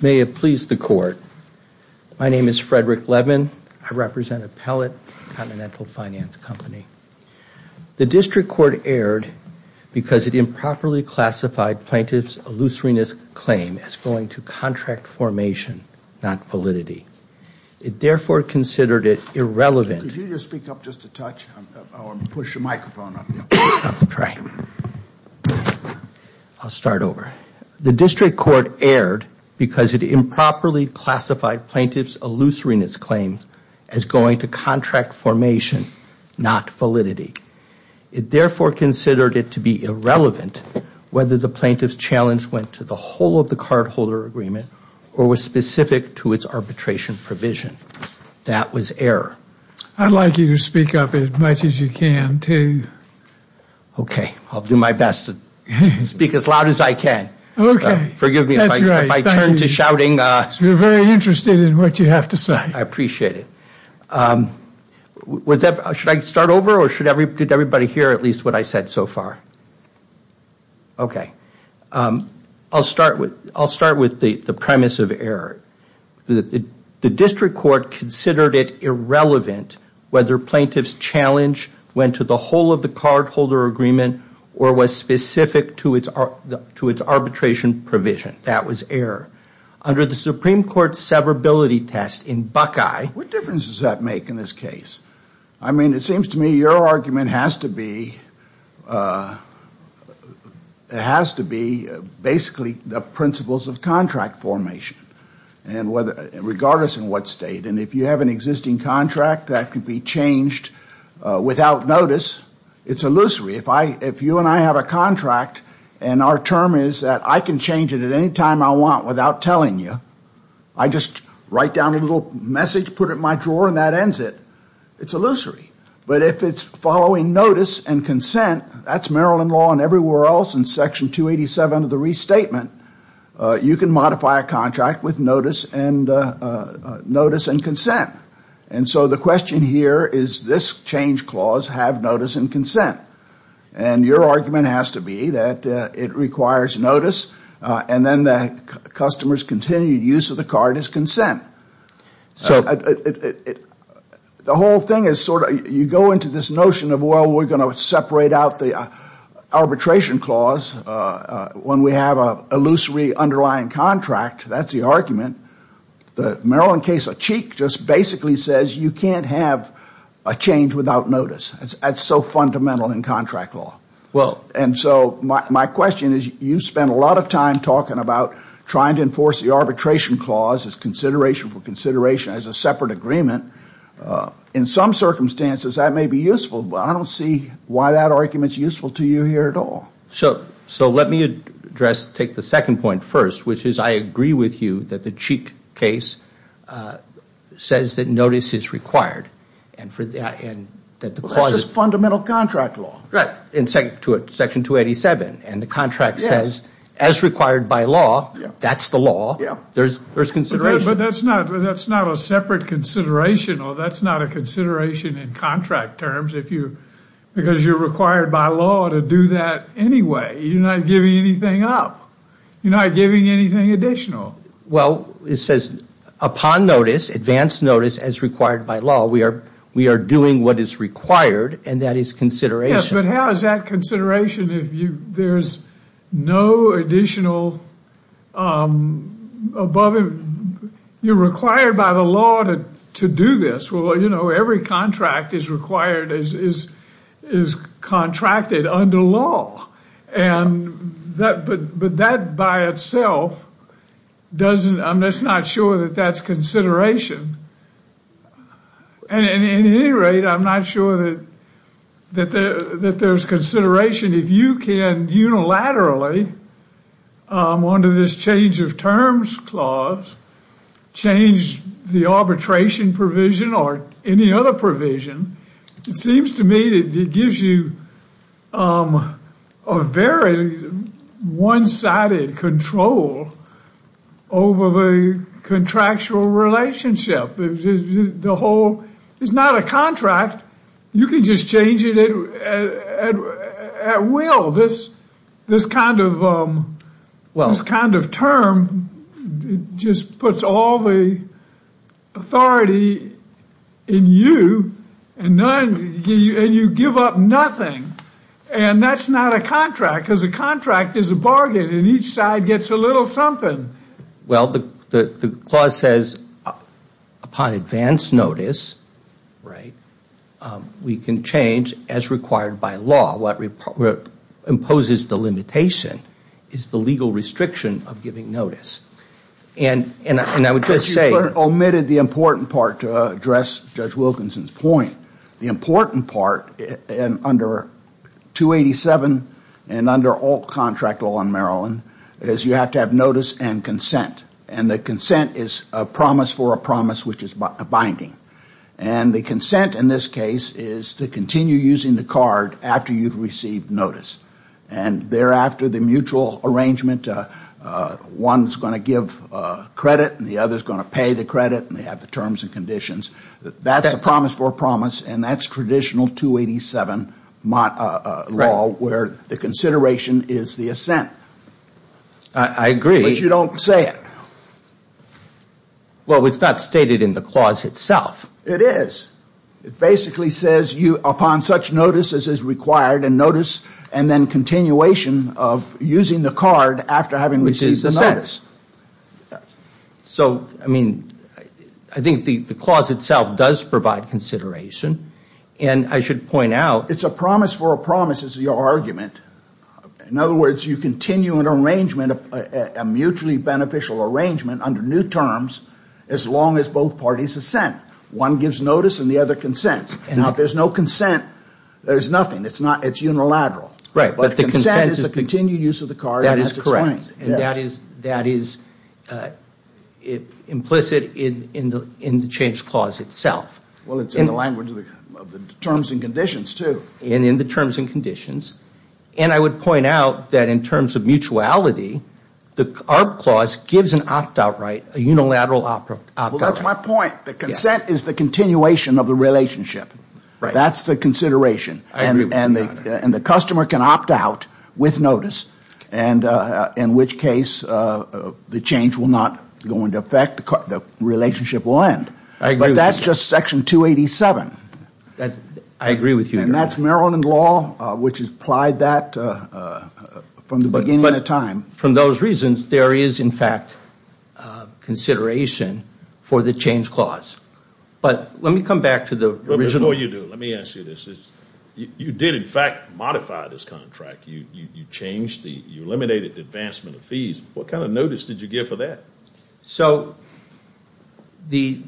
May it please the court. My name is Frederick Levin. I represent Appellate Continental Finance Company. The district court erred because it improperly classified plaintiff's illusoriness claim as going to contract formation, not validity. It therefore considered it irrelevant. Could you just speak up just a touch or push a microphone up? I'll try. I'll start over. The district court erred because it improperly classified plaintiff's illusoriness claim as going to contract formation, not validity. It therefore considered it to be irrelevant whether the plaintiff's challenge went to the whole of the cardholder agreement or was specific to its arbitration provision. That was error. I'd like you to speak up as much as you can too. Okay. I'll do my best to speak as loud as I can. Okay. That's right. Forgive me if I turn to shouting. You're very interested in what you have to say. I appreciate it. Should I start over or did everybody hear at least what I said so far? Okay. I'll start with the premise of error. The district court considered it irrelevant whether plaintiff's challenge went to the whole of the cardholder agreement or was specific to its arbitration provision. That was error. Under the Supreme Court's severability test in Buckeye What difference does that make in this case? I mean, it seems to me your argument has to be basically the principles of contract formation regardless in what state. And if you have an existing contract that can be changed without notice, it's illusory. If you and I have a contract and our term is that I can change it at any time I want without telling you, I just write down a little message, put it in my drawer, and that ends it. It's illusory. But if it's following notice and consent, that's Maryland law and everywhere else in Section 287 of the Restatement, you can modify a contract with notice and consent. And so the question here is this change clause have notice and consent. And your argument has to be that it requires notice and then the customer's continued use of the card is consent. So the whole thing is sort of you go into this notion of, well, we're going to separate out the arbitration clause. When we have an illusory underlying contract, that's the argument. The Maryland case of Cheek just basically says you can't have a change without notice. That's so fundamental in contract law. And so my question is you spend a lot of time talking about trying to enforce the arbitration clause as consideration for consideration as a separate agreement. In some circumstances that may be useful, but I don't see why that argument is useful to you here at all. So let me address, take the second point first, which is I agree with you that the Cheek case says that notice is required That's just fundamental contract law. Right, in section 287. And the contract says as required by law, that's the law. There's consideration. But that's not a separate consideration or that's not a consideration in contract terms because you're required by law to do that anyway. You're not giving anything up. You're not giving anything additional. Well, it says upon notice, advanced notice as required by law, we are doing what is required and that is consideration. Yes, but how is that consideration if there's no additional above it? You're required by the law to do this. Well, you know, every contract is required, is contracted under law. But that by itself doesn't, I'm just not sure that that's consideration. At any rate, I'm not sure that there's consideration. If you can unilaterally, under this change of terms clause, change the arbitration provision or any other provision, it seems to me that it gives you a very one-sided control over the contractual relationship. The whole, it's not a contract. You can just change it at will. Well, this kind of term just puts all the authority in you and you give up nothing. And that's not a contract because a contract is a bargain and each side gets a little something. Well, the clause says upon advanced notice, right, we can change as required by law. What imposes the limitation is the legal restriction of giving notice. And I would just say- But you omitted the important part to address Judge Wilkinson's point. The important part under 287 and under all contract law in Maryland is you have to have notice and consent. And the consent is a promise for a promise which is a binding. And the consent in this case is to continue using the card after you've received notice. And thereafter, the mutual arrangement, one's going to give credit and the other's going to pay the credit and they have the terms and conditions. That's a promise for a promise and that's traditional 287 law where the consideration is the assent. I agree. But you don't say it. Well, it's not stated in the clause itself. It is. It basically says upon such notice as is required and notice and then continuation of using the card after having received the notice. So, I mean, I think the clause itself does provide consideration. And I should point out- It's a promise for a promise is your argument. In other words, you continue an arrangement, a mutually beneficial arrangement under new terms as long as both parties assent. One gives notice and the other consents. And if there's no consent, there's nothing. It's unilateral. Right. But the consent is the continued use of the card. That is correct. And that is implicit in the change clause itself. Well, it's in the language of the terms and conditions, too. And in the terms and conditions. And I would point out that in terms of mutuality, the ARB clause gives an opt-out right, a unilateral opt-out right. Well, that's my point. The consent is the continuation of the relationship. Right. That's the consideration. I agree with you on that. And the customer can opt out with notice, in which case the change will not go into effect. The relationship will end. But that's just Section 287. I agree with you. And that's Maryland law, which has applied that from the beginning of time. From those reasons, there is, in fact, consideration for the change clause. But let me come back to the original. Before you do, let me ask you this. You did, in fact, modify this contract. You changed the, you eliminated the advancement of fees. What kind of notice did you give for that? So the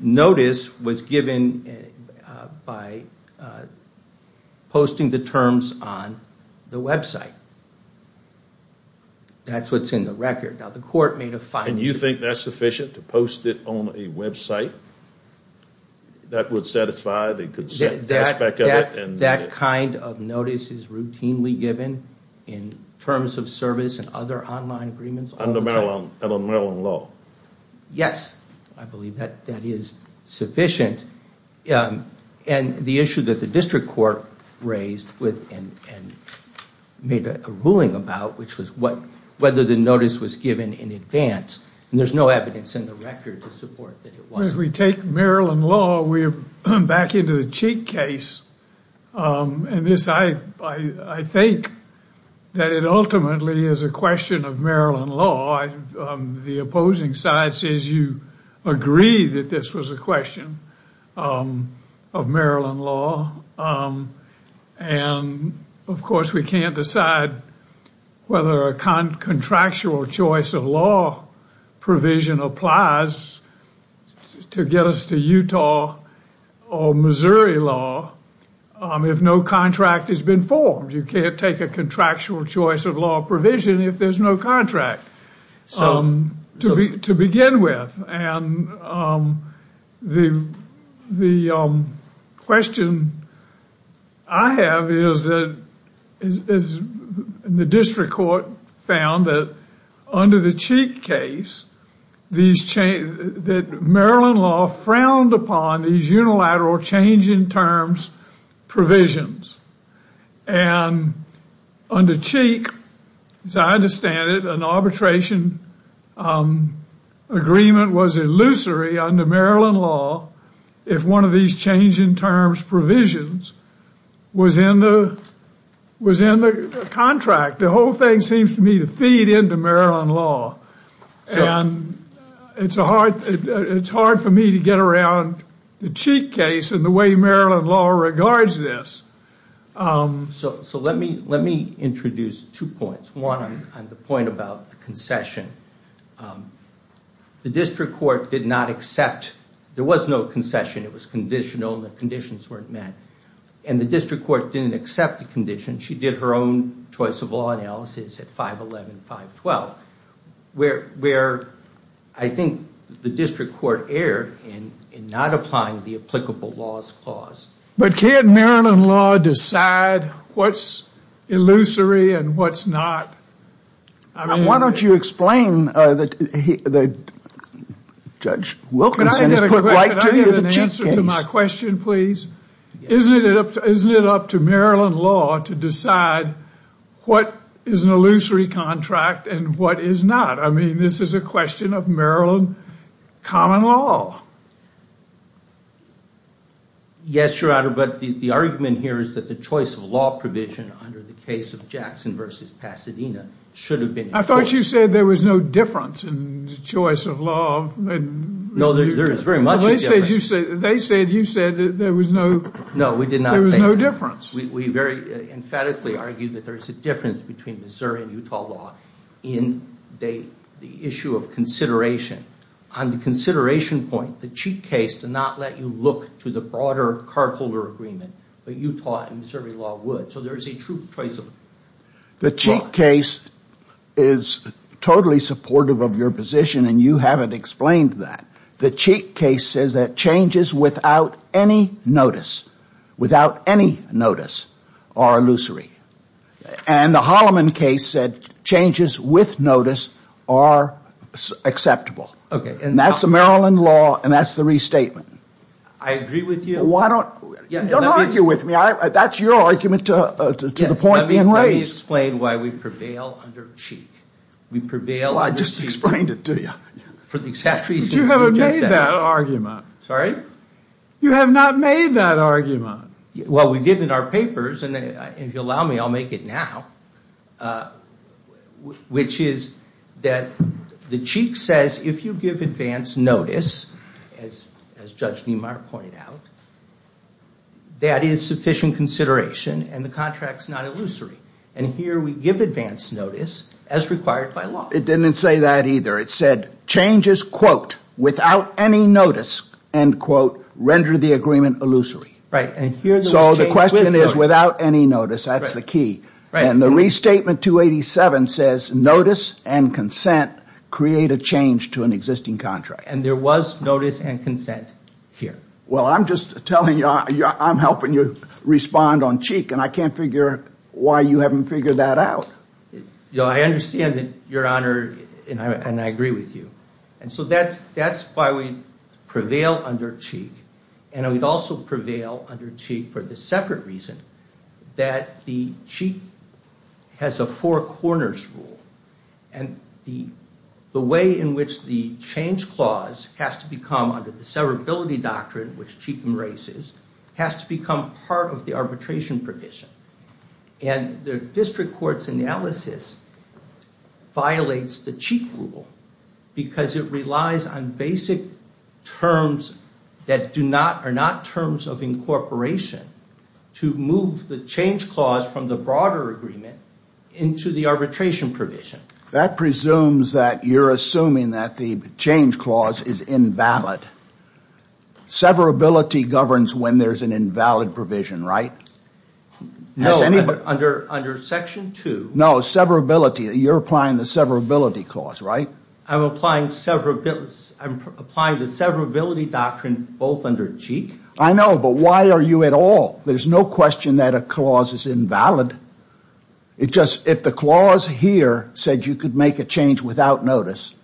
notice was given by posting the terms on the website. That's what's in the record. Now, the court made a fine. And you think that's sufficient, to post it on a website? That would satisfy the consent? That kind of notice is routinely given in terms of service and other online agreements? Under Maryland law. Yes, I believe that is sufficient. And the issue that the district court raised and made a ruling about, which was whether the notice was given in advance, and there's no evidence in the record to support that it wasn't. As long as we take Maryland law, we're back into the cheat case. And this, I think, that it ultimately is a question of Maryland law. The opposing side says you agree that this was a question of Maryland law. And, of course, we can't decide whether a contractual choice of law provision applies to get us to Utah or Missouri law, if no contract has been formed. You can't take a contractual choice of law provision if there's no contract to begin with. And the question I have is that the district court found that under the cheat case, that Maryland law frowned upon these unilateral change in terms provisions. And under cheat, as I understand it, an arbitration agreement was illusory under Maryland law if one of these change in terms provisions was in the contract. The whole thing seems to me to feed into Maryland law. And it's hard for me to get around the cheat case and the way Maryland law regards this. So let me introduce two points. One on the point about the concession. The district court did not accept. There was no concession. It was conditional, and the conditions weren't met. And the district court didn't accept the condition. She did her own choice of law analysis at 511, 512, where I think the district court erred in not applying the applicable laws clause. But can't Maryland law decide what's illusory and what's not? Why don't you explain that Judge Wilkinson has put right to you the cheat case? Can I get an answer to my question, please? Isn't it up to Maryland law to decide what is an illusory contract and what is not? I mean, this is a question of Maryland common law. Yes, Your Honor, but the argument here is that the choice of law provision under the case of Jackson v. Pasadena should have been enforced. I thought you said there was no difference in the choice of law. No, there is very much a difference. They said you said there was no difference. We very emphatically argue that there is a difference between Missouri and Utah law in the issue of consideration. On the consideration point, the cheat case did not let you look to the broader carpooler agreement, but Utah and Missouri law would. So there is a true choice of law. The cheat case is totally supportive of your position, and you haven't explained that. The cheat case says that changes without any notice, without any notice, are illusory. And the Holloman case said changes with notice are acceptable. And that's a Maryland law, and that's the restatement. I agree with you. Don't argue with me. That's your argument to the point being raised. Let me explain why we prevail under cheat. I just explained it to you. You haven't made that argument. Sorry? You have not made that argument. Well, we did in our papers, and if you'll allow me, I'll make it now, which is that the cheat says if you give advance notice, as Judge Niemeyer pointed out, that is sufficient consideration and the contract is not illusory. And here we give advance notice as required by law. It didn't say that either. It said changes, quote, without any notice, end quote, render the agreement illusory. So the question is without any notice. That's the key. And the restatement 287 says notice and consent create a change to an existing contract. And there was notice and consent here. Well, I'm just telling you, I'm helping you respond on cheat, and I can't figure why you haven't figured that out. You know, I understand that, Your Honor, and I agree with you. And so that's why we prevail under cheat. And we'd also prevail under cheat for the separate reason that the cheat has a four corners rule. And the way in which the change clause has to become under the severability doctrine, which cheat embraces, has to become part of the arbitration provision. And the district court's analysis violates the cheat rule because it relies on basic terms that are not terms of incorporation to move the change clause from the broader agreement into the arbitration provision. That presumes that you're assuming that the change clause is invalid. Severability governs when there's an invalid provision, right? No, but under section two. No, severability, you're applying the severability clause, right? I'm applying the severability doctrine both under cheat. I know, but why are you at all? There's no question that a clause is invalid. It just, if the clause here said you could make a change without notice,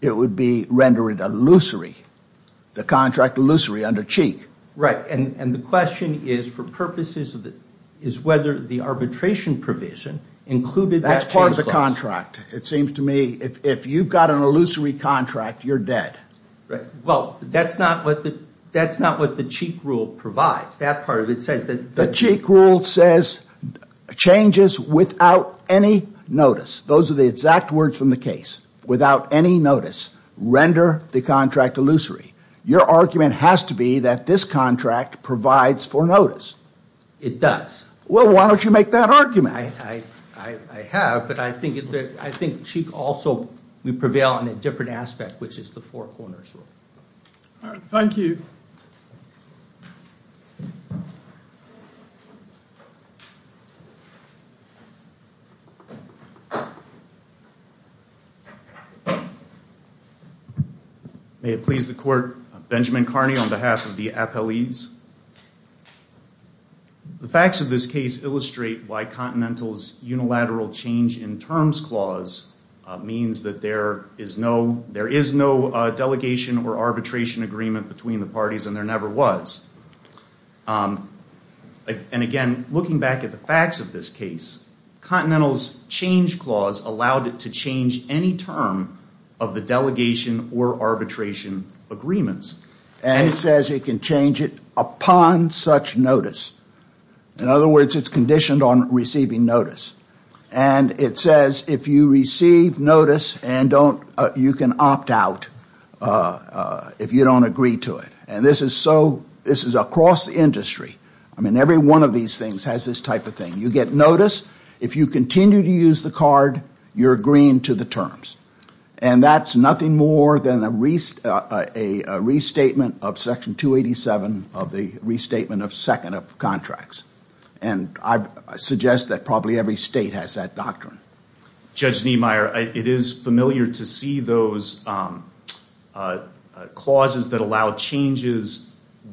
it would be rendered illusory, the contract illusory under cheat. Right, and the question is, for purposes of it, is whether the arbitration provision included that change clause. That's part of the contract. It seems to me if you've got an illusory contract, you're dead. Right, well, that's not what the cheat rule provides. That part of it says that. The cheat rule says changes without any notice. Those are the exact words from the case. Without any notice, render the contract illusory. Your argument has to be that this contract provides for notice. It does. Well, why don't you make that argument? I have, but I think cheat also would prevail on a different aspect, which is the four corners rule. All right, thank you. May it please the court, Benjamin Carney on behalf of the appellees. The facts of this case illustrate why Continental's unilateral change in terms clause means that there is no delegation or arbitration agreement between the parties and there never was. And again, looking back at the facts of this case, Continental's change clause allowed it to change any term of the delegation or arbitration agreements. And it says it can change it upon such notice. In other words, it's conditioned on receiving notice. And it says if you receive notice, you can opt out if you don't agree to it. And this is across the industry. I mean, every one of these things has this type of thing. You get notice. If you continue to use the card, you're agreeing to the terms. And that's nothing more than a restatement of Section 287 of the Restatement of Second of Contracts. And I suggest that probably every state has that doctrine. Judge Niemeyer, it is familiar to see those clauses that allow changes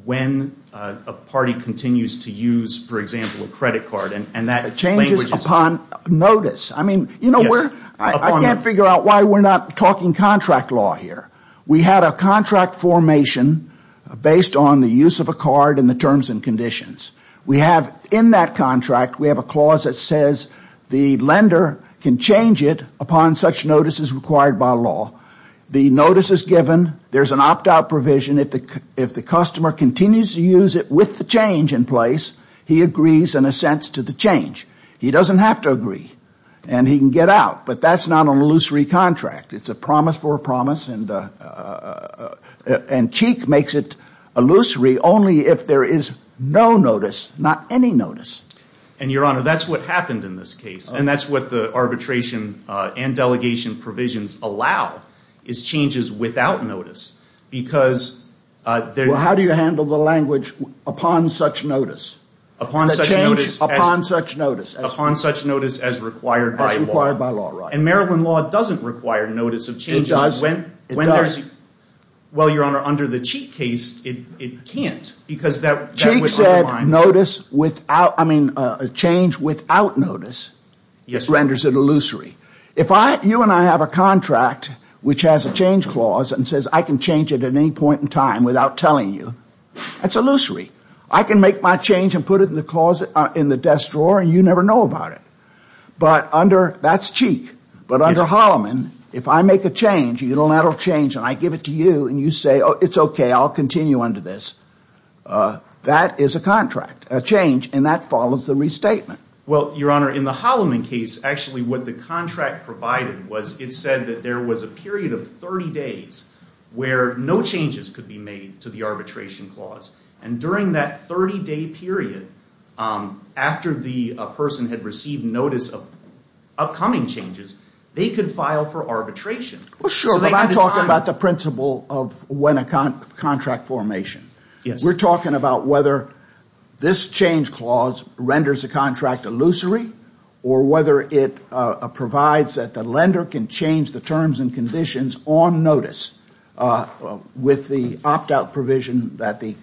when a party continues to use, for example, a credit card. And that changes upon notice. I mean, you know, I can't figure out why we're not talking contract law here. We had a contract formation based on the use of a card and the terms and conditions. We have in that contract, we have a clause that says the lender can change it upon such notices required by law. The notice is given. There's an opt-out provision. If the customer continues to use it with the change in place, he agrees in a sense to the change. He doesn't have to agree. And he can get out. But that's not an illusory contract. It's a promise for a promise. And Cheek makes it illusory only if there is no notice, not any notice. And, Your Honor, that's what happened in this case. And that's what the arbitration and delegation provisions allow, is changes without notice. Well, how do you handle the language upon such notice? Upon such notice as required by law. And Maryland law doesn't require notice of changes. It does. Well, Your Honor, under the Cheek case, it can't because that would undermine. Cheek said notice without, I mean, a change without notice renders it illusory. If you and I have a contract which has a change clause and says I can change it at any point in time without telling you, that's illusory. I can make my change and put it in the closet, in the desk drawer, and you never know about it. But under, that's Cheek. But under Holloman, if I make a change, a unilateral change, and I give it to you and you say, oh, it's okay, I'll continue under this. That is a contract, a change, and that follows the restatement. Well, Your Honor, in the Holloman case, actually what the contract provided was it said that there was a period of 30 days where no changes could be made to the arbitration clause. And during that 30-day period, after the person had received notice of upcoming changes, they could file for arbitration. Well, sure, but I'm talking about the principle of when a contract formation. Yes. We're talking about whether this change clause renders a contract illusory or whether it provides that the lender can change the terms and conditions on notice with the opt-out provision that the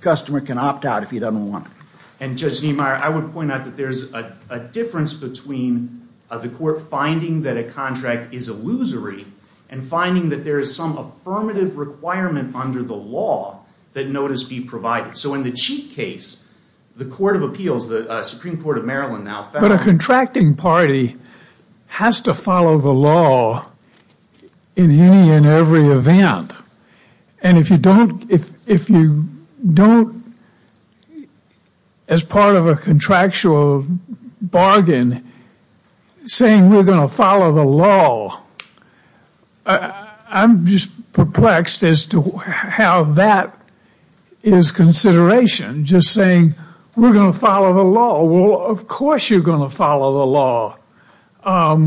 customer can opt out if he doesn't want it. And Judge Niemeyer, I would point out that there's a difference between the court finding that a contract is illusory and finding that there is some affirmative requirement under the law that notice be provided. So in the Cheek case, the Court of Appeals, the Supreme Court of Maryland now found that. But a contracting party has to follow the law in any and every event. And if you don't, as part of a contractual bargain, saying we're going to follow the law, I'm just perplexed as to how that is consideration, just saying we're going to follow the law. Well, of course you're going to follow the law. But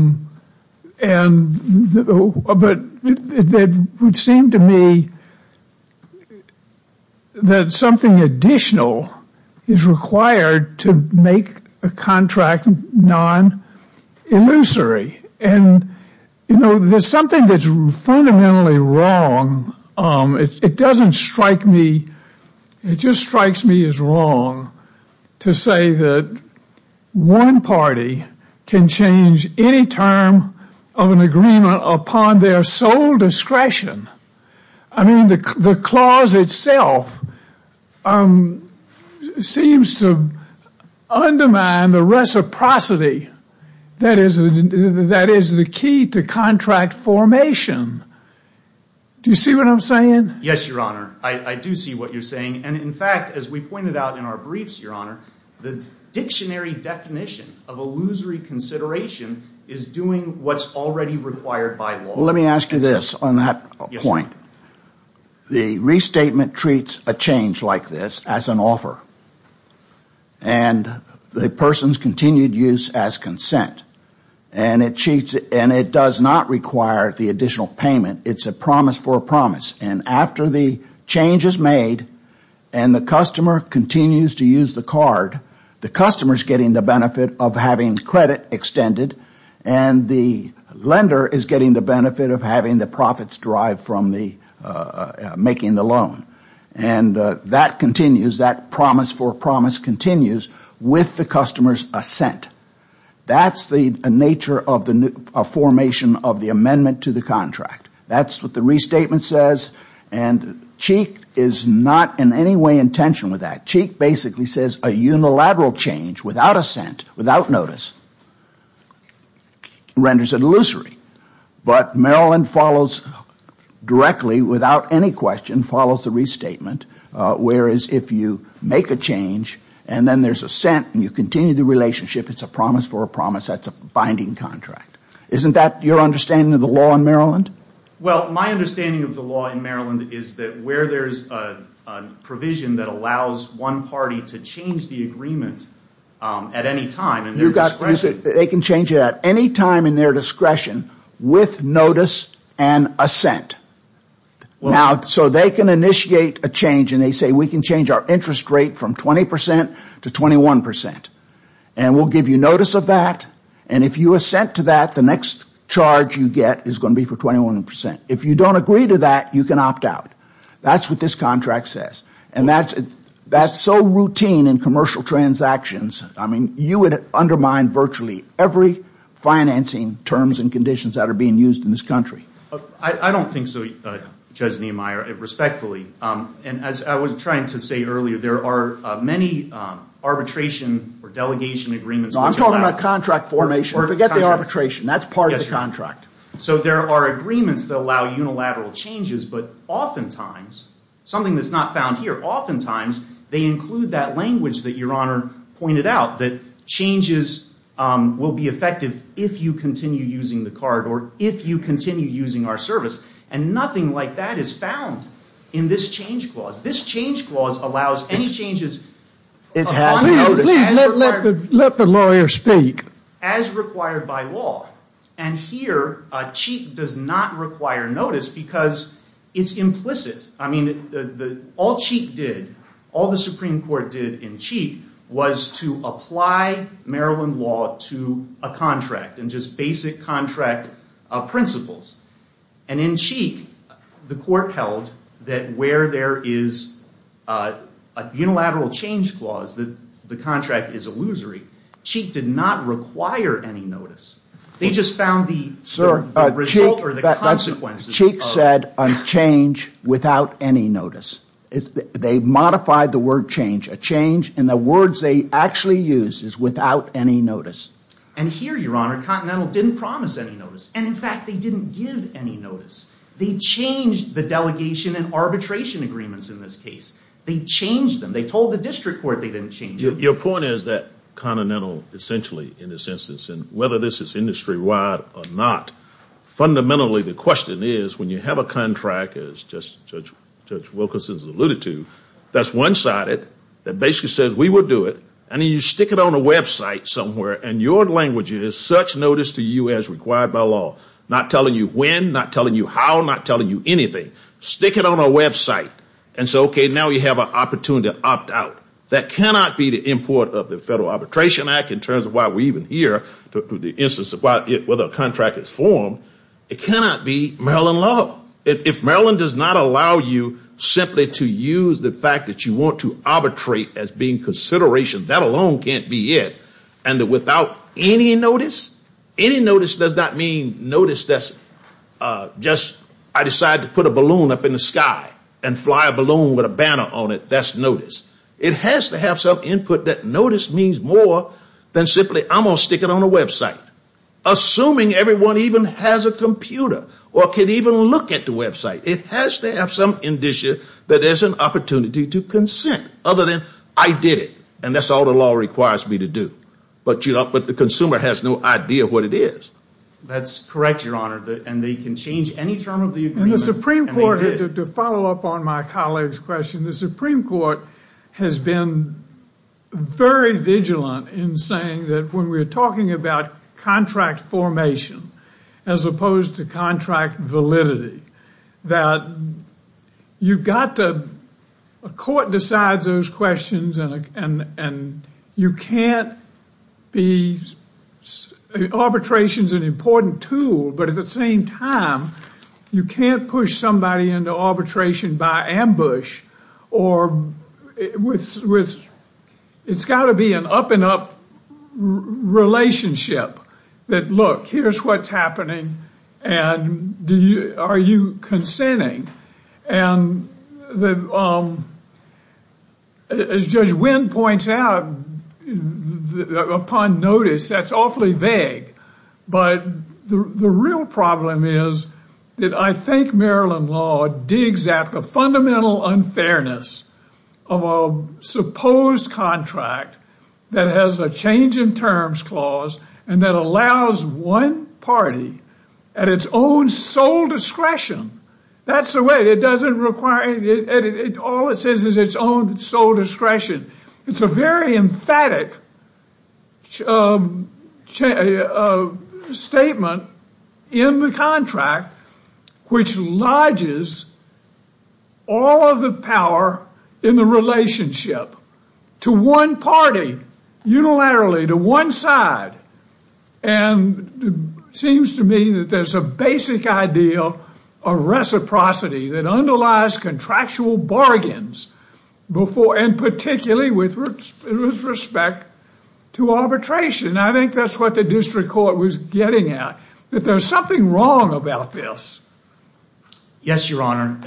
it would seem to me that something additional is required to make a contract non-illusory. And there's something that's fundamentally wrong. It doesn't strike me. It just strikes me as wrong to say that one party can change any term of an agreement upon their sole discretion. I mean, the clause itself seems to undermine the reciprocity that is the key to contract formation. Do you see what I'm saying? Yes, Your Honor. I do see what you're saying. And in fact, as we pointed out in our briefs, Your Honor, the dictionary definition of illusory consideration is doing what's already required by law. Well, let me ask you this on that point. The restatement treats a change like this as an offer. And the person's continued use as consent. And it does not require the additional payment. It's a promise for a promise. And after the change is made and the customer continues to use the card, the customer is getting the benefit of having credit extended. And the lender is getting the benefit of having the profits derived from making the loan. And that continues, that promise for promise continues with the customer's assent. That's the nature of formation of the amendment to the contract. That's what the restatement says. And Cheek is not in any way in tension with that. Cheek basically says a unilateral change without assent, without notice, renders it illusory. But Maryland follows directly, without any question, follows the restatement. Whereas if you make a change and then there's assent and you continue the relationship, it's a promise for a promise. That's a binding contract. Isn't that your understanding of the law in Maryland? Well, my understanding of the law in Maryland is that where there's a provision that allows one party to change the agreement at any time in their discretion. They can change it at any time in their discretion with notice and assent. So they can initiate a change and they say we can change our interest rate from 20% to 21%. And we'll give you notice of that. And if you assent to that, the next charge you get is going to be for 21%. If you don't agree to that, you can opt out. That's what this contract says. And that's so routine in commercial transactions. I mean, you would undermine virtually every financing terms and conditions that are being used in this country. I don't think so, Judge Niemeyer, respectfully. And as I was trying to say earlier, there are many arbitration or delegation agreements. I'm talking about contract formation. Forget the arbitration. That's part of the contract. So there are agreements that allow unilateral changes. But oftentimes, something that's not found here, oftentimes they include that language that Your Honor pointed out, that changes will be effective if you continue using the card or if you continue using our service. And nothing like that is found in this change clause. This change clause allows any changes upon notice. Please let the lawyer speak. As required by law. And here, Cheek does not require notice because it's implicit. I mean, all Cheek did, all the Supreme Court did in Cheek was to apply Maryland law to a contract and just basic contract principles. And in Cheek, the court held that where there is a unilateral change clause, the contract is illusory. Cheek did not require any notice. They just found the result or the consequences. Cheek said a change without any notice. They modified the word change. A change in the words they actually use is without any notice. And here, Your Honor, Continental didn't promise any notice. And, in fact, they didn't give any notice. They changed the delegation and arbitration agreements in this case. They changed them. They told the district court they didn't change them. Your point is that Continental essentially, in this instance, and whether this is industry-wide or not, fundamentally the question is, when you have a contract, as Judge Wilkinson has alluded to, that's one-sided, that basically says we will do it, and then you stick it on a website somewhere, and your language is such notice to you as required by law, not telling you when, not telling you how, not telling you anything. Stick it on a website. And so, okay, now you have an opportunity to opt out. That cannot be the import of the Federal Arbitration Act in terms of why we're even here, to the instance of whether a contract is formed. It cannot be Maryland law. If Maryland does not allow you simply to use the fact that you want to arbitrate as being consideration, that alone can't be it. And without any notice, any notice does not mean notice that's just I decided to put a balloon up in the sky and fly a balloon with a banner on it. That's notice. It has to have some input that notice means more than simply I'm going to stick it on a website. Assuming everyone even has a computer or can even look at the website. It has to have some indicia that there's an opportunity to consent other than I did it, and that's all the law requires me to do. But the consumer has no idea what it is. That's correct, Your Honor, and they can change any term of the agreement. And the Supreme Court, to follow up on my colleague's question, the Supreme Court has been very vigilant in saying that when we're talking about contract formation, as opposed to contract validity, that you've got to, a court decides those questions and you can't be, arbitration's an important tool, but at the same time, you can't push somebody into arbitration by ambush or with, it's got to be an up and up relationship that look, here's what's happening. And do you, are you consenting? And the, as Judge Wynn points out, upon notice, that's awfully vague. But the real problem is that I think Maryland law digs at the fundamental unfairness of a supposed contract that has a change in terms clause and that allows one party at its own sole discretion. That's the way, it doesn't require, all it says is its own sole discretion. It's a very emphatic statement in the contract, which lodges all of the power in the relationship to one party, unilaterally, to one side. And it seems to me that there's a basic ideal of reciprocity that underlies contractual bargains before, and particularly with respect to arbitration. I think that's what the district court was getting at, that there's something wrong about this. Yes, Your Honor,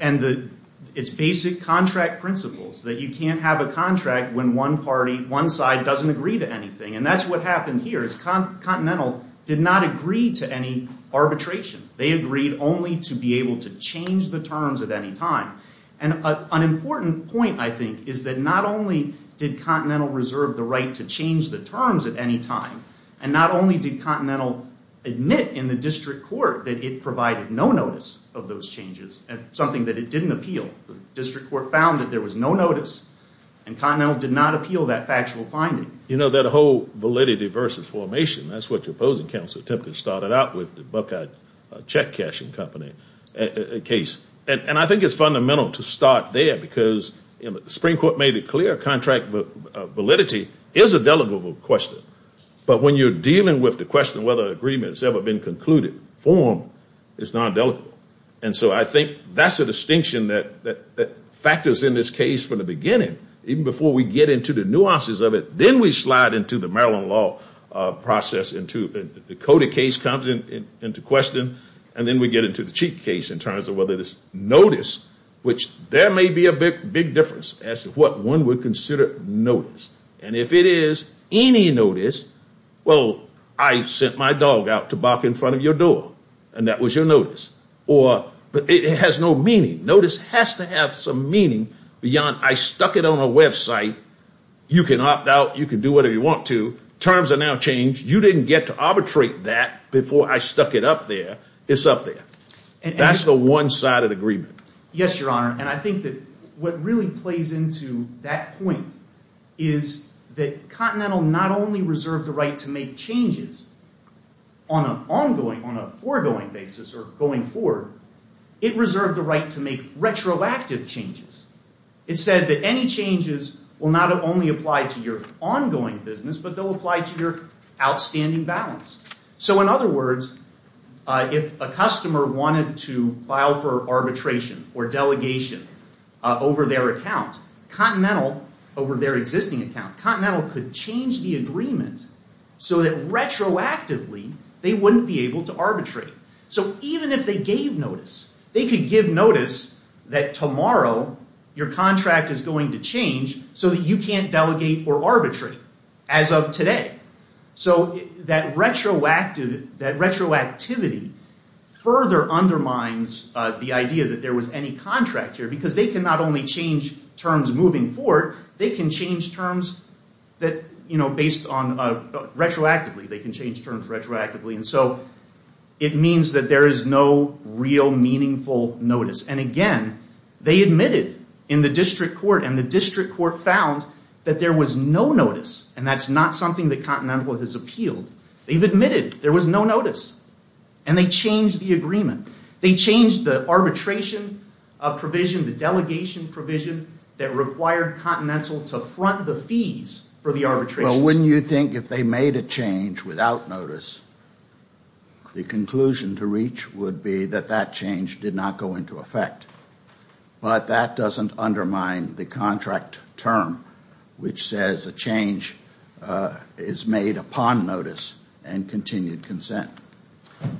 and the, it's basic contract principles that you can't have a contract when one party, one side doesn't agree to anything. And that's what happened here, is Continental did not agree to any arbitration. They agreed only to be able to change the terms at any time. And an important point, I think, is that not only did Continental reserve the right to change the terms at any time, and not only did Continental admit in the district court that it provided no notice of those changes, something that it didn't appeal. The district court found that there was no notice, and Continental did not appeal that factual finding. You know, that whole validity versus formation, that's what your opposing counsel attempted to start out with, the Buckeye check cashing company case. And I think it's fundamental to start there, because the Supreme Court made it clear contract validity is a delegable question. But when you're dealing with the question of whether an agreement has ever been concluded, formed, it's not delegable. And so I think that's a distinction that factors in this case from the beginning, even before we get into the nuances of it. Then we slide into the Maryland law process. The Coda case comes into question, and then we get into the Cheek case in terms of whether there's notice, which there may be a big difference as to what one would consider notice. And if it is any notice, well, I sent my dog out to bark in front of your door, and that was your notice. But it has no meaning. Notice has to have some meaning beyond I stuck it on a website. You can opt out. You can do whatever you want to. Terms are now changed. You didn't get to arbitrate that before I stuck it up there. It's up there. That's the one-sided agreement. Yes, Your Honor, and I think that what really plays into that point is that Continental not only reserved the right to make changes on an ongoing, on a foregoing basis or going forward, it reserved the right to make retroactive changes. It said that any changes will not only apply to your ongoing business, but they'll apply to your outstanding balance. So in other words, if a customer wanted to file for arbitration or delegation over their account, Continental, over their existing account, Continental could change the agreement so that retroactively they wouldn't be able to arbitrate. So even if they gave notice, they could give notice that tomorrow your contract is going to change so that you can't delegate or arbitrate as of today. So that retroactivity further undermines the idea that there was any contract here because they can not only change terms moving forward, they can change terms retroactively. They can change terms retroactively. And so it means that there is no real meaningful notice. And again, they admitted in the district court, and the district court found that there was no notice, and that's not something that Continental has appealed. They've admitted there was no notice, and they changed the agreement. They changed the arbitration provision, the delegation provision that required Continental to front the fees for the arbitration. Well, wouldn't you think if they made a change without notice, the conclusion to reach would be that that change did not go into effect? But that doesn't undermine the contract term, which says a change is made upon notice and continued consent.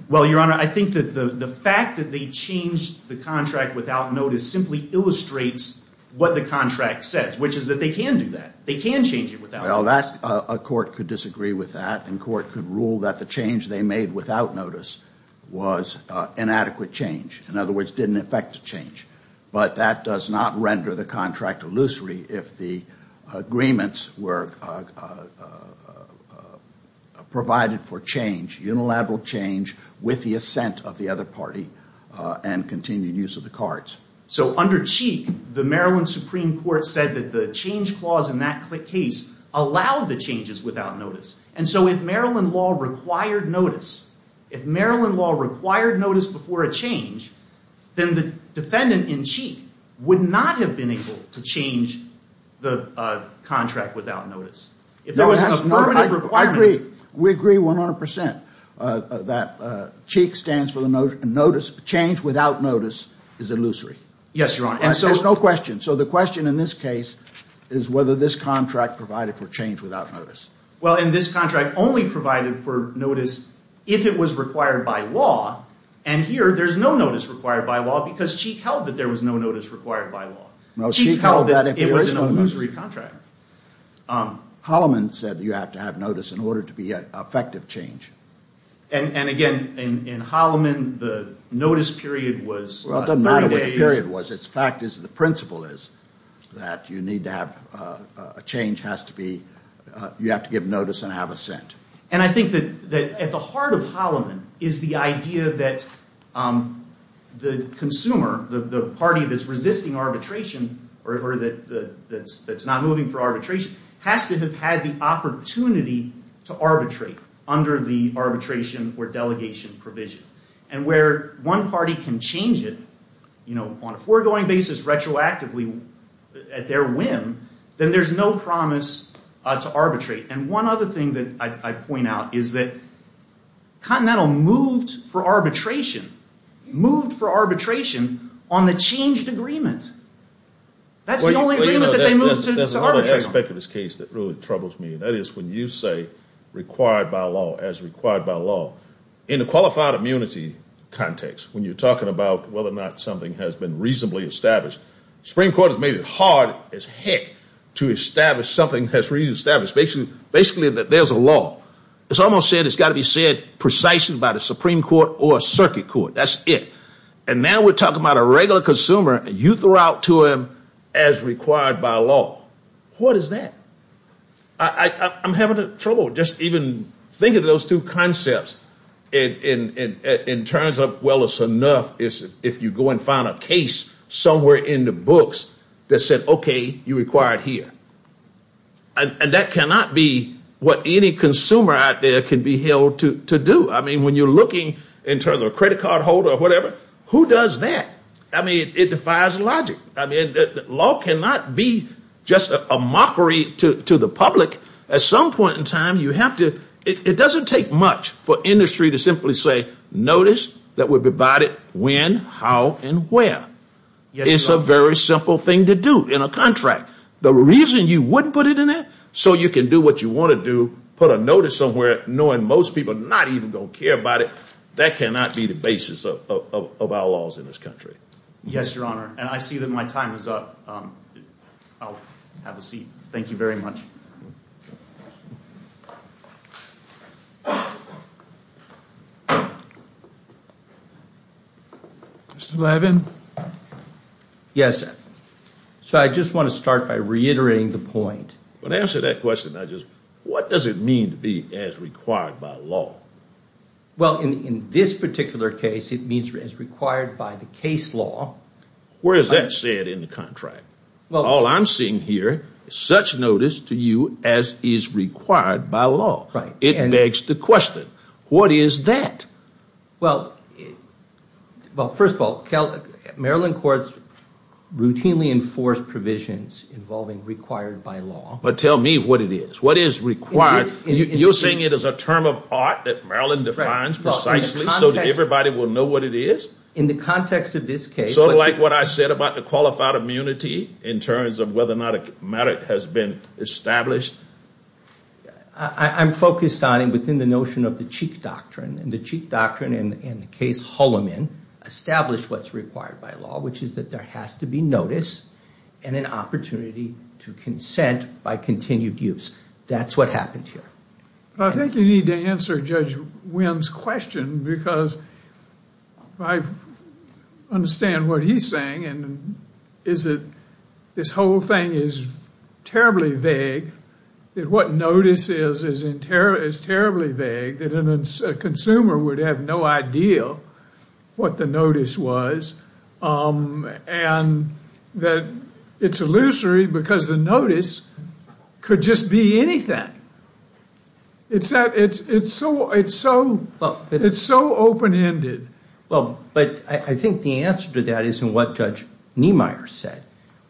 Well, Your Honor, I think that the fact that they changed the contract without notice simply illustrates what the contract says, which is that they can do that. They can change it without notice. Well, a court could disagree with that, and court could rule that the change they made without notice was inadequate change. In other words, didn't affect the change. But that does not render the contract illusory if the agreements were provided for change, unilateral change, with the assent of the other party and continued use of the cards. So under Cheek, the Maryland Supreme Court said that the change clause in that case allowed the changes without notice. And so if Maryland law required notice, if Maryland law required notice before a change, then the defendant in Cheek would not have been able to change the contract without notice. I agree. We agree 100 percent that Cheek stands for the notice. Change without notice is illusory. Yes, Your Honor. There's no question. So the question in this case is whether this contract provided for change without notice. Well, and this contract only provided for notice if it was required by law. And here there's no notice required by law because Cheek held that there was no notice required by law. Cheek held that it was an illusory contract. Holloman said you have to have notice in order to be effective change. And again, in Holloman, the notice period was 30 days. Well, it doesn't matter what the period was. The fact is, the principle is that you need to have a change has to be you have to give notice and have assent. And I think that at the heart of Holloman is the idea that the consumer, the party that's resisting arbitration or that's not moving for arbitration, has to have had the opportunity to arbitrate under the arbitration or delegation provision. And where one party can change it on a foregoing basis retroactively at their whim, then there's no promise to arbitrate. And one other thing that I point out is that Continental moved for arbitration, moved for arbitration on the changed agreement. That's the only agreement that they moved to arbitrate on. There's another aspect of this case that really troubles me. That is when you say required by law as required by law. In a qualified immunity context, when you're talking about whether or not something has been reasonably established, the Supreme Court has made it hard as heck to establish something that's reasonably established. Basically that there's a law. It's almost said it's got to be said precisely by the Supreme Court or a circuit court. That's it. And now we're talking about a regular consumer and you throw out to him as required by law. What is that? I'm having trouble just even thinking of those two concepts. In terms of, well, it's enough if you go and find a case somewhere in the books that said, okay, you're required here. And that cannot be what any consumer out there can be held to do. I mean, when you're looking in terms of a credit card holder or whatever, who does that? I mean, it defies logic. I mean, law cannot be just a mockery to the public. At some point in time, you have to, it doesn't take much for industry to simply say, notice that we're provided when, how, and where. It's a very simple thing to do in a contract. The reason you wouldn't put it in there, so you can do what you want to do, put a notice somewhere knowing most people are not even going to care about it, that cannot be the basis of our laws in this country. Yes, Your Honor. And I see that my time is up. I'll have a seat. Thank you very much. Mr. Levin. Yes. So I just want to start by reiterating the point. When I answer that question, I just, what does it mean to be as required by law? Well, in this particular case, it means as required by the case law. Where is that said in the contract? All I'm seeing here is such notice to you as is required by law. It begs the question, what is that? Well, first of all, Maryland courts routinely enforce provisions involving required by law. But tell me what it is. What is required? You're saying it is a term of art that Maryland defines precisely so that everybody will know what it is? Sort of like what I said about the qualified immunity in terms of whether or not a merit has been established? I'm focused on it within the notion of the Cheek Doctrine. And the Cheek Doctrine in the case Holloman established what's required by law, which is that there has to be notice and an opportunity to consent by continued use. That's what happened here. I think you need to answer Judge Wynn's question because I understand what he's saying, and is that this whole thing is terribly vague, that what notice is is terribly vague, that a consumer would have no idea what the notice was, and that it's illusory because the notice could just be anything. It's so open-ended. Well, but I think the answer to that is in what Judge Niemeyer said,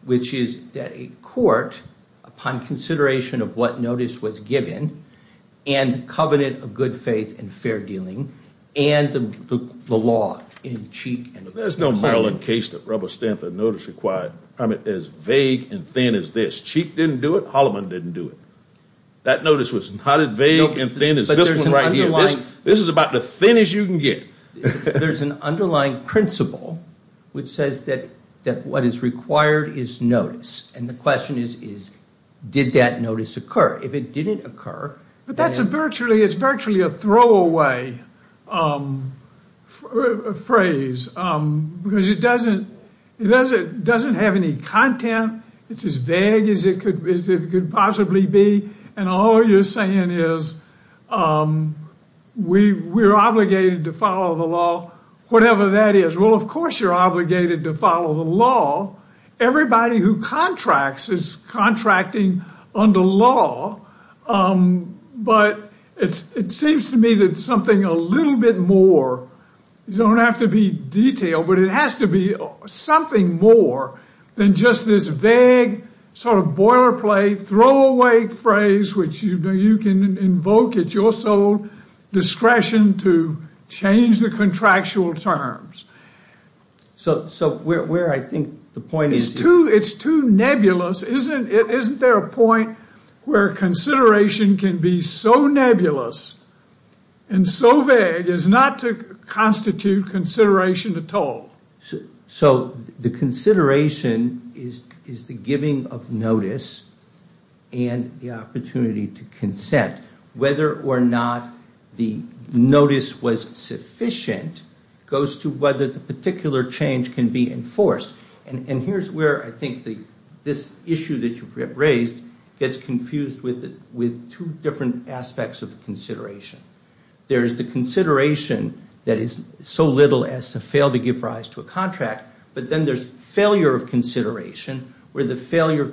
which is that a court, upon consideration of what notice was given, and the covenant of good faith and fair dealing, and the law in Cheek. There's no Maryland case that rubber-stamped a notice requirement as vague and thin as this. Cheek didn't do it. Holloman didn't do it. That notice was not as vague and thin as this one right here. This is about the thinnest you can get. There's an underlying principle which says that what is required is notice. And the question is, did that notice occur? But that's virtually a throwaway phrase because it doesn't have any content. It's as vague as it could possibly be, and all you're saying is we're obligated to follow the law, whatever that is. Well, of course you're obligated to follow the law. Everybody who contracts is contracting under law. But it seems to me that something a little bit more, you don't have to be detailed, but it has to be something more than just this vague sort of boilerplate, throwaway phrase, which you can invoke at your sole discretion to change the contractual terms. So where I think the point is... It's too nebulous. Isn't there a point where consideration can be so nebulous and so vague as not to constitute consideration at all? So the consideration is the giving of notice and the opportunity to consent. Whether or not the notice was sufficient goes to whether the particular change can be enforced. And here's where I think this issue that you've raised gets confused with two different aspects of consideration. There is the consideration that is so little as to fail to give rise to a contract, but then there's failure of consideration, where the failure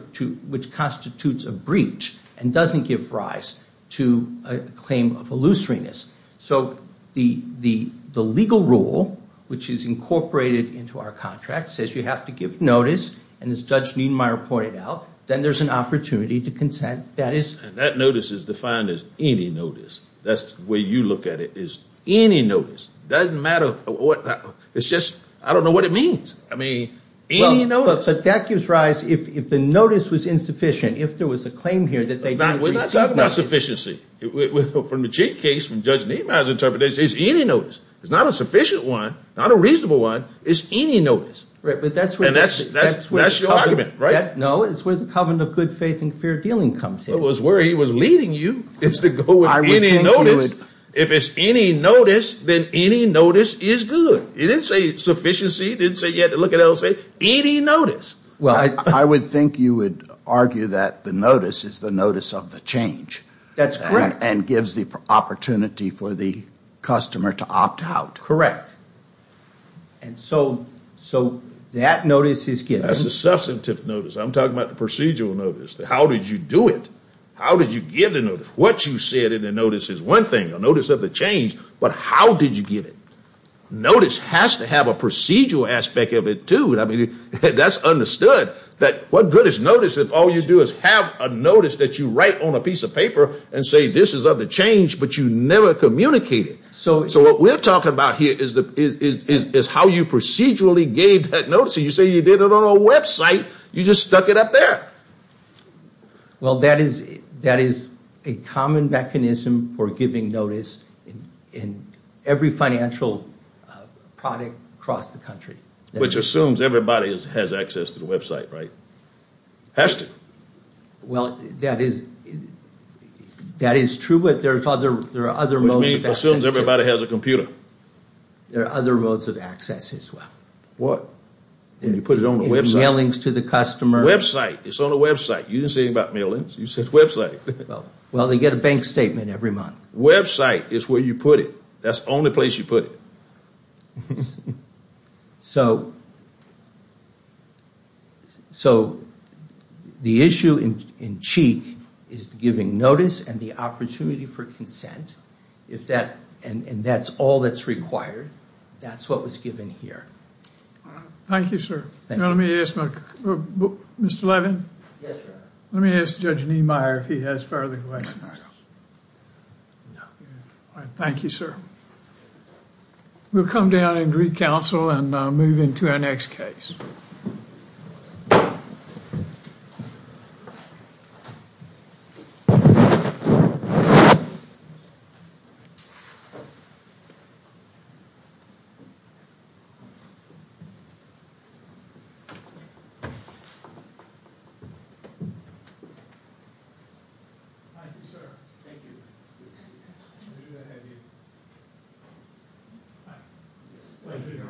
which constitutes a breach and doesn't give rise to a claim of illusoriness. So the legal rule, which is incorporated into our contract, says you have to give notice, and as Judge Niedmeyer pointed out, then there's an opportunity to consent. And that notice is defined as any notice. That's the way you look at it, is any notice. It doesn't matter. It's just I don't know what it means. I mean, any notice. But that gives rise, if the notice was insufficient, if there was a claim here that they didn't receive notice. We're not talking about sufficiency. From the Jake case, from Judge Niedmeyer's interpretation, it's any notice. It's not a sufficient one, not a reasonable one. It's any notice. Right, but that's where the covenant of good faith and fair dealing comes in. It was where he was leading you is to go with any notice. If it's any notice, then any notice is good. He didn't say sufficiency. He didn't say you had to look at LSA. Any notice. Well, I would think you would argue that the notice is the notice of the change. That's correct. And gives the opportunity for the customer to opt out. Correct. And so that notice is given. That's a substantive notice. I'm talking about the procedural notice. How did you do it? How did you give the notice? What you said in the notice is one thing, a notice of the change, but how did you give it? Notice has to have a procedural aspect of it, too. That's understood. What good is notice if all you do is have a notice that you write on a piece of paper and say this is of the change, but you never communicate it. So what we're talking about here is how you procedurally gave that notice. You say you did it on a website. You just stuck it up there. Well, that is a common mechanism for giving notice in every financial product across the country. Which assumes everybody has access to the website, right? Has to. Well, that is true, but there are other modes of access. Which assumes everybody has a computer. There are other modes of access, as well. What? When you put it on the website. Mailings to the customer. Website. It's on a website. You didn't say anything about mailings. You said website. Well, they get a bank statement every month. Website is where you put it. That's the only place you put it. So the issue in CHIC is giving notice and the opportunity for consent. And that's all that's required. That's what was given here. Thank you, sir. Mr. Levin? Yes, sir. Let me ask Judge Niemeyer if he has further questions. Thank you, sir. We'll come down and re-counsel and move into our next case. Thank you, sir. Thank you. Pleasure to have you. Hi. Pleasure to be here. Thank you, sir.